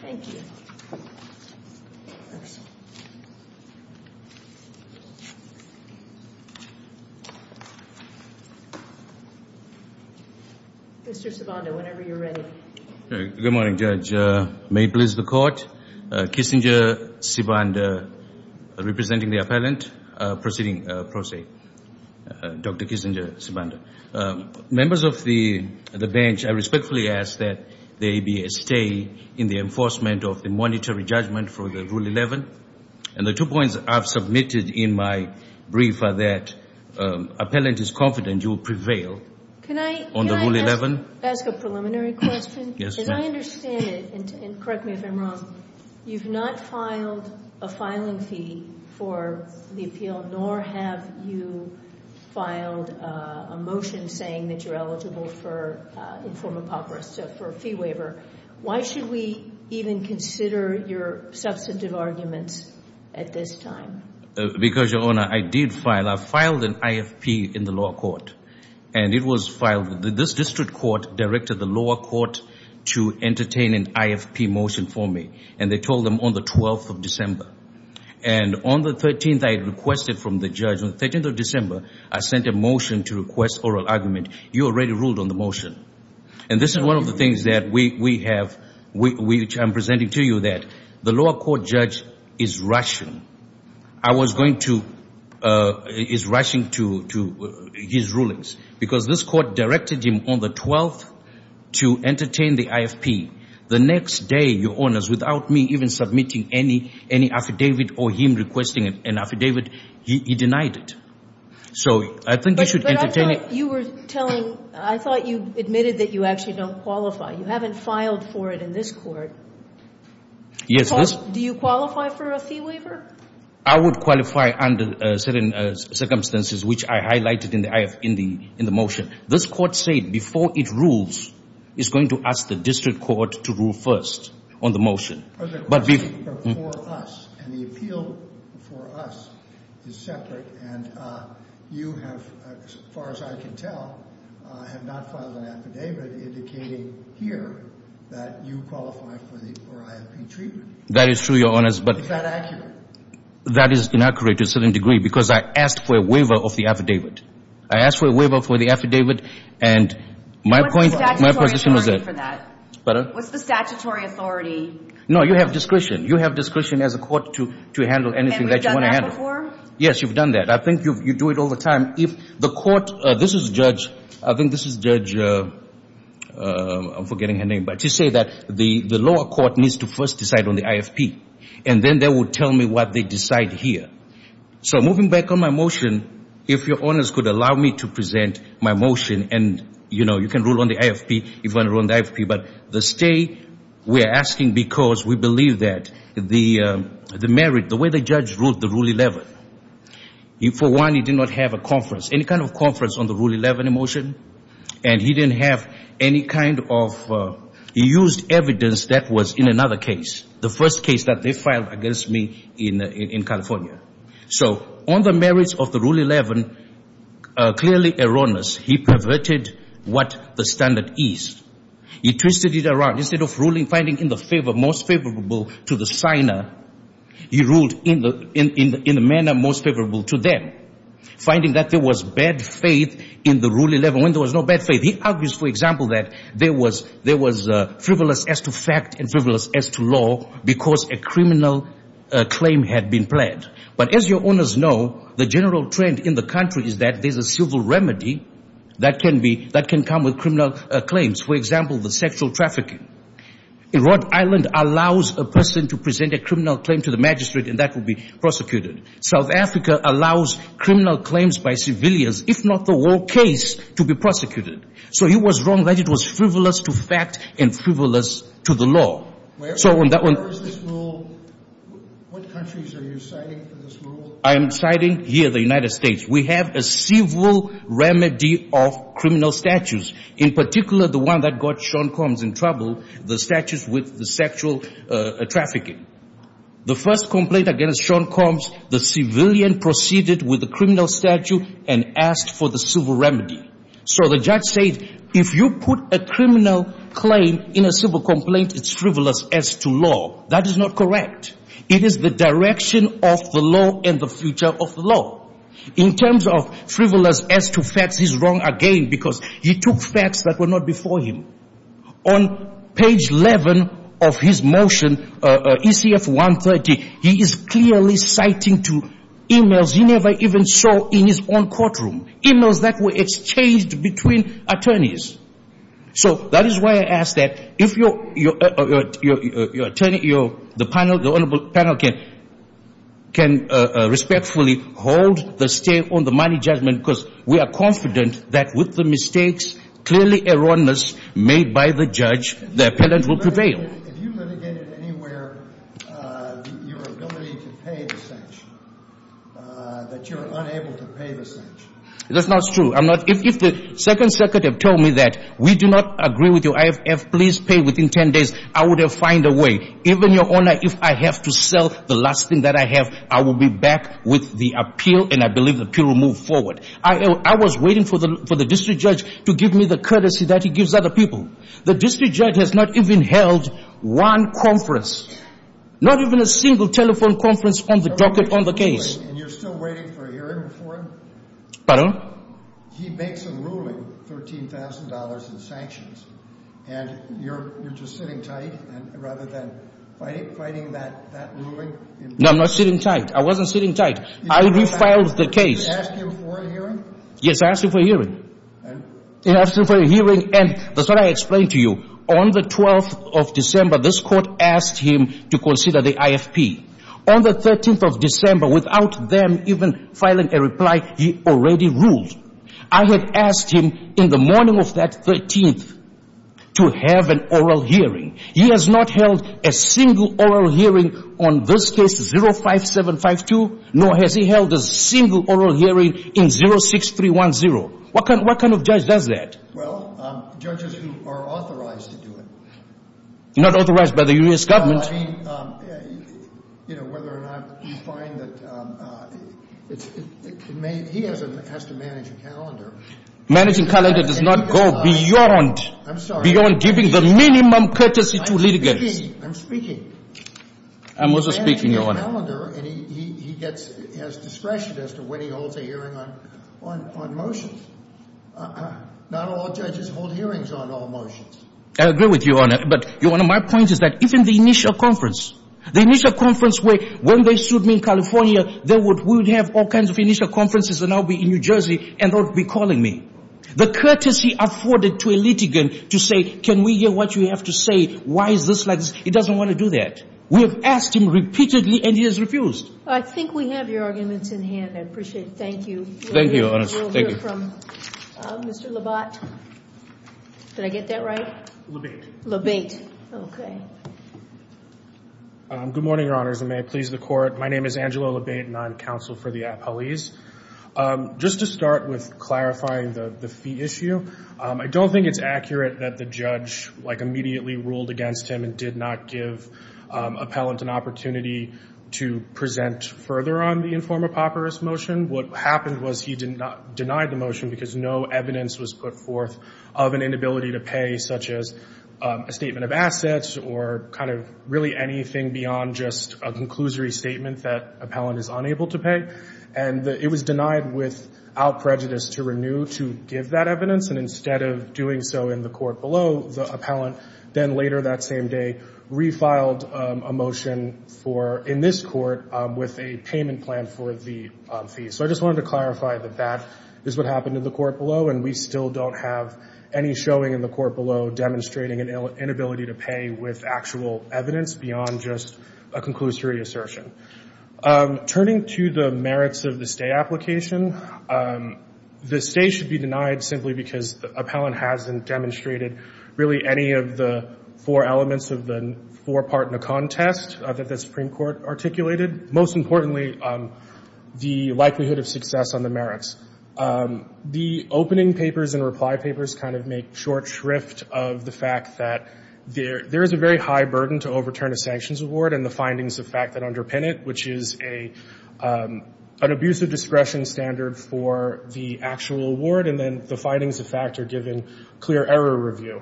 Thank you. Mr. Sibanda, whenever you're ready. Good morning, Judge. May it please the Court. Kissinger, Sibanda, representing the appellant. Proceeding. Dr. Kissinger, Sibanda. Members of the bench, I respectfully ask that there be a stay in the enforcement of the monetary judgment for the Rule 11. And the two points I've submitted in my brief are that appellant is confident you will prevail on the Rule 11. Can I ask a preliminary question? Yes, ma'am. As I understand it, and correct me if I'm wrong, you've not filed a filing fee for the appeal, nor have you filed a motion saying that you're eligible for inform apocryphal, so for a fee waiver. Why should we even consider your substantive arguments at this time? Because, Your Honor, I did file. I filed an IFP in the lower court. And it was filed. This district court directed the lower court to entertain an IFP motion for me. And they told them on the 12th of December. And on the 13th, I requested from the judge, on the 13th of December, I sent a motion to request oral argument. You already ruled on the motion. And this is one of the things that we have, which I'm presenting to you, that the lower court judge is rushing. I was going to, is rushing to his rulings. Because this court directed him on the 12th to entertain the IFP. The next day, Your Honors, without me even submitting any affidavit or him requesting an affidavit, he denied it. So I think you should entertain it. But I thought you were telling, I thought you admitted that you actually don't qualify. You haven't filed for it in this court. Yes. Do you qualify for a fee waiver? I would qualify under certain circumstances, which I highlighted in the motion. This court said before it rules, it's going to ask the district court to rule first on the motion. But before us. And the appeal before us is separate. And you have, as far as I can tell, have not filed an affidavit indicating here that you qualify for the, for IFP treatment. That is true, Your Honors. Is that accurate? That is inaccurate to a certain degree. Because I asked for a waiver of the affidavit. I asked for a waiver for the affidavit. And my point, my position is that. What's the statutory authority for that? Pardon? What's the statutory authority? No, you have discretion. You have discretion as a court to handle anything that you want to handle. And we've done that before? Yes, you've done that. I think you do it all the time. If the court, this is Judge, I think this is Judge, I'm forgetting her name. But she said that the lower court needs to first decide on the IFP. And then they will tell me what they decide here. So moving back on my motion, if Your Honors could allow me to present my motion. And, you know, you can rule on the IFP if you want to rule on the IFP. But the stay, we are asking because we believe that the merit, the way the judge ruled the Rule 11, for one, he did not have a conference, any kind of conference on the Rule 11 motion. And he didn't have any kind of, he used evidence that was in another case, the first case that they filed against me in California. So on the merits of the Rule 11, clearly erroneous. He perverted what the standard is. He twisted it around. Instead of ruling, finding in the favor, most favorable to the signer, he ruled in the manner most favorable to them. Finding that there was bad faith in the Rule 11 when there was no bad faith. He argues, for example, that there was frivolous as to fact and frivolous as to law because a criminal claim had been pled. But as Your Honors know, the general trend in the country is that there's a civil remedy that can be, that can come with criminal claims. For example, the sexual trafficking. Rhode Island allows a person to present a criminal claim to the magistrate and that will be prosecuted. South Africa allows criminal claims by civilians, if not the whole case, to be prosecuted. So he was wrong that it was frivolous to fact and frivolous to the law. So on that one. Where is this rule? What countries are you citing for this rule? I am citing here the United States. We have a civil remedy of criminal statutes, in particular the one that got Sean Combs in trouble, the statute with the sexual trafficking. The first complaint against Sean Combs, the civilian proceeded with the criminal statute and asked for the civil remedy. So the judge said, if you put a criminal claim in a civil complaint, it's frivolous as to law. That is not correct. It is the direction of the law and the future of the law. In terms of frivolous as to facts, he's wrong again because he took facts that were not before him. On page 11 of his motion, ECF 130, he is clearly citing to emails he never even saw in his own courtroom. Emails that were exchanged between attorneys. So that is why I ask that if the panel can respectfully hold the state on the money judgment because we are confident that with the mistakes clearly erroneous made by the judge, the appellant will prevail. If you litigated anywhere, your ability to pay the sanction, that you're unable to pay the sanction. That's not true. If the second circuit had told me that we do not agree with your IFF, please pay within 10 days, I would have find a way. Even your honor, if I have to sell the last thing that I have, I will be back with the appeal and I believe the appeal will move forward. I was waiting for the district judge to give me the courtesy that he gives other people. The district judge has not even held one conference. Not even a single telephone conference on the docket on the case. And you're still waiting for a hearing before him? Pardon? He makes a ruling, $13,000 in sanctions, and you're just sitting tight rather than fighting that ruling? No, I'm not sitting tight. I wasn't sitting tight. I refiled the case. You didn't ask him for a hearing? Yes, I asked him for a hearing. And? I asked him for a hearing and that's what I explained to you. On the 12th of December, this court asked him to consider the IFP. On the 13th of December, without them even filing a reply, he already ruled. I had asked him in the morning of that 13th to have an oral hearing. He has not held a single oral hearing on this case, 05752, nor has he held a single oral hearing in 06310. What kind of judge does that? Well, judges who are authorized to do it. Not authorized by the U.S. government. Well, I mean, you know, whether or not you find that he has to manage a calendar. Managing a calendar does not go beyond giving the minimum courtesy to litigants. I'm speaking. I'm also speaking, Your Honor. Managing a calendar, and he has discretion as to when he holds a hearing on motions. Not all judges hold hearings on all motions. I agree with you, Your Honor, but one of my points is that even the initial conference, the initial conference where when they sued me in California, we would have all kinds of initial conferences and I would be in New Jersey and they would be calling me. The courtesy afforded to a litigant to say, can we hear what you have to say? Why is this like this? He doesn't want to do that. We have asked him repeatedly and he has refused. I think we have your arguments in hand. I appreciate it. Thank you. Thank you, Your Honor. We'll hear from Mr. Labate. Did I get that right? Labate. Labate. Okay. Good morning, Your Honors, and may it please the Court. My name is Angelo Labate and I'm counsel for the appellees. Just to start with clarifying the fee issue, I don't think it's accurate that the judge like immediately ruled against him and did not give appellant an opportunity to present further on the informed apocryphal motion. What happened was he denied the motion because no evidence was put forth of an inability to pay such as a statement of assets or kind of really anything beyond just a conclusory statement that appellant is unable to pay. And it was denied without prejudice to renew to give that evidence. And instead of doing so in the court below, the appellant then later that same day refiled a motion in this court with a payment plan for the fee. So I just wanted to clarify that that is what happened in the court below and we still don't have any showing in the court below demonstrating an inability to pay with actual evidence beyond just a conclusory assertion. Turning to the merits of the stay application, the stay should be denied simply because the appellant hasn't demonstrated really any of the four elements of the four part in a contest that the Supreme Court articulated. Most importantly, the likelihood of success on the merits. The opening papers and reply papers kind of make short shrift of the fact that there is a very high burden to overturn a sanctions award and the findings of fact that underpin it, which is an abusive discretion standard for the actual award and then the findings of fact are given clear error review.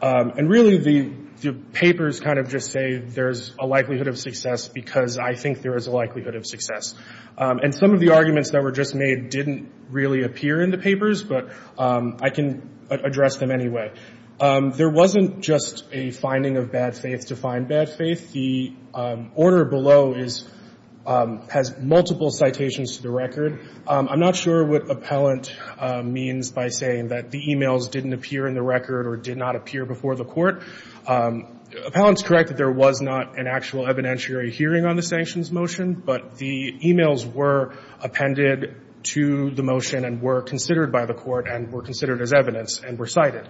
And really the papers kind of just say there's a likelihood of success because I think there is a likelihood of success. And some of the arguments that were just made didn't really appear in the papers, but I can address them anyway. There wasn't just a finding of bad faith to find bad faith. The order below has multiple citations to the record. I'm not sure what appellant means by saying that the e-mails didn't appear in the record or did not appear before the court. Appellant's correct that there was not an actual evidentiary hearing on the sanctions motion, but the e-mails were appended to the motion and were considered by the court and were considered as evidence and were cited.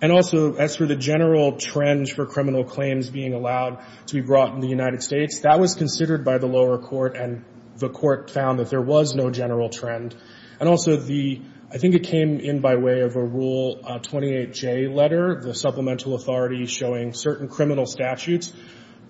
And also as for the general trends for criminal claims being allowed to be brought in the United States, that was considered by the lower court and the court found that there was no general trend. And also I think it came in by way of a Rule 28J letter, the supplemental authority showing certain criminal statutes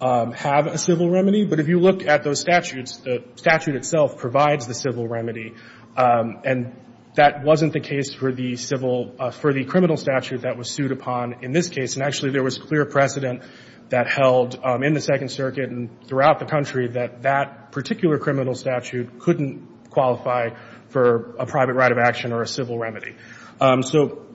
have a civil remedy. But if you look at those statutes, the statute itself provides the civil remedy. And that wasn't the case for the criminal statute that was sued upon in this case. And actually there was clear precedent that held in the Second Circuit and throughout the country that that particular criminal statute couldn't qualify for a private right of action or a civil remedy. So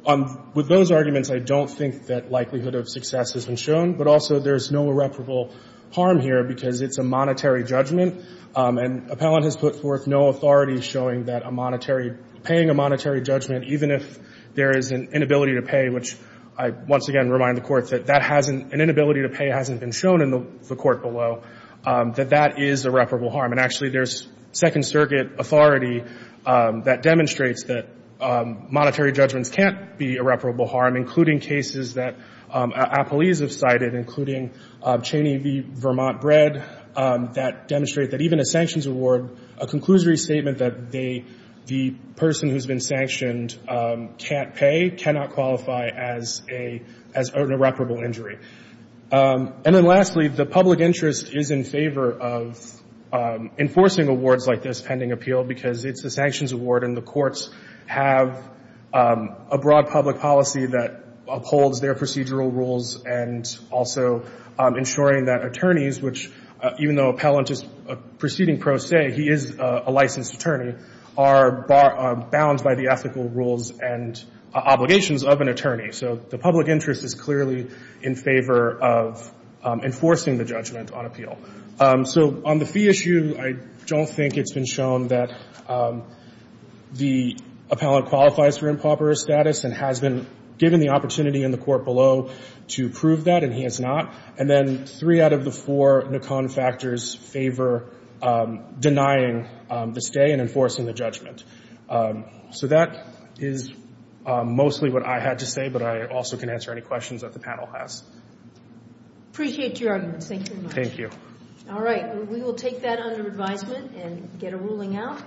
with those arguments, I don't think that likelihood of success has been shown. But also there's no irreparable harm here because it's a monetary judgment. And appellant has put forth no authority showing that a monetary, paying a monetary judgment, even if there is an inability to pay, which I once again remind the Court that that hasn't an inability to pay hasn't been shown in the Court below, that that is irreparable harm. And actually there's Second Circuit authority that demonstrates that monetary judgments can't be irreparable harm, including cases that appellees have cited, including Cheney v. Vermont Bread, that demonstrate that even a sanctions award, a conclusory statement that they, the person who's been sanctioned can't pay, cannot qualify as a, as an irreparable injury. And then lastly, the public interest is in favor of enforcing awards like this pending appeal because it's a sanctions award and the courts have a broad public policy that upholds their procedural rules and also ensuring that attorneys, which even though appellant is a proceeding pro se, he is a licensed attorney, are bound by the ethical rules and obligations of an attorney. So the public interest is clearly in favor of enforcing the judgment on appeal. So on the fee issue, I don't think it's been shown that the appellant qualifies for improper status and has been given the opportunity in the Court below to prove that and he has not. And then three out of the four NACON factors favor denying the stay and enforcing the judgment. So that is mostly what I had to say, but I also can answer any questions that the panel has. Appreciate your arguments. Thank you very much. Thank you. All right. We will take that under advisement and get a ruling out.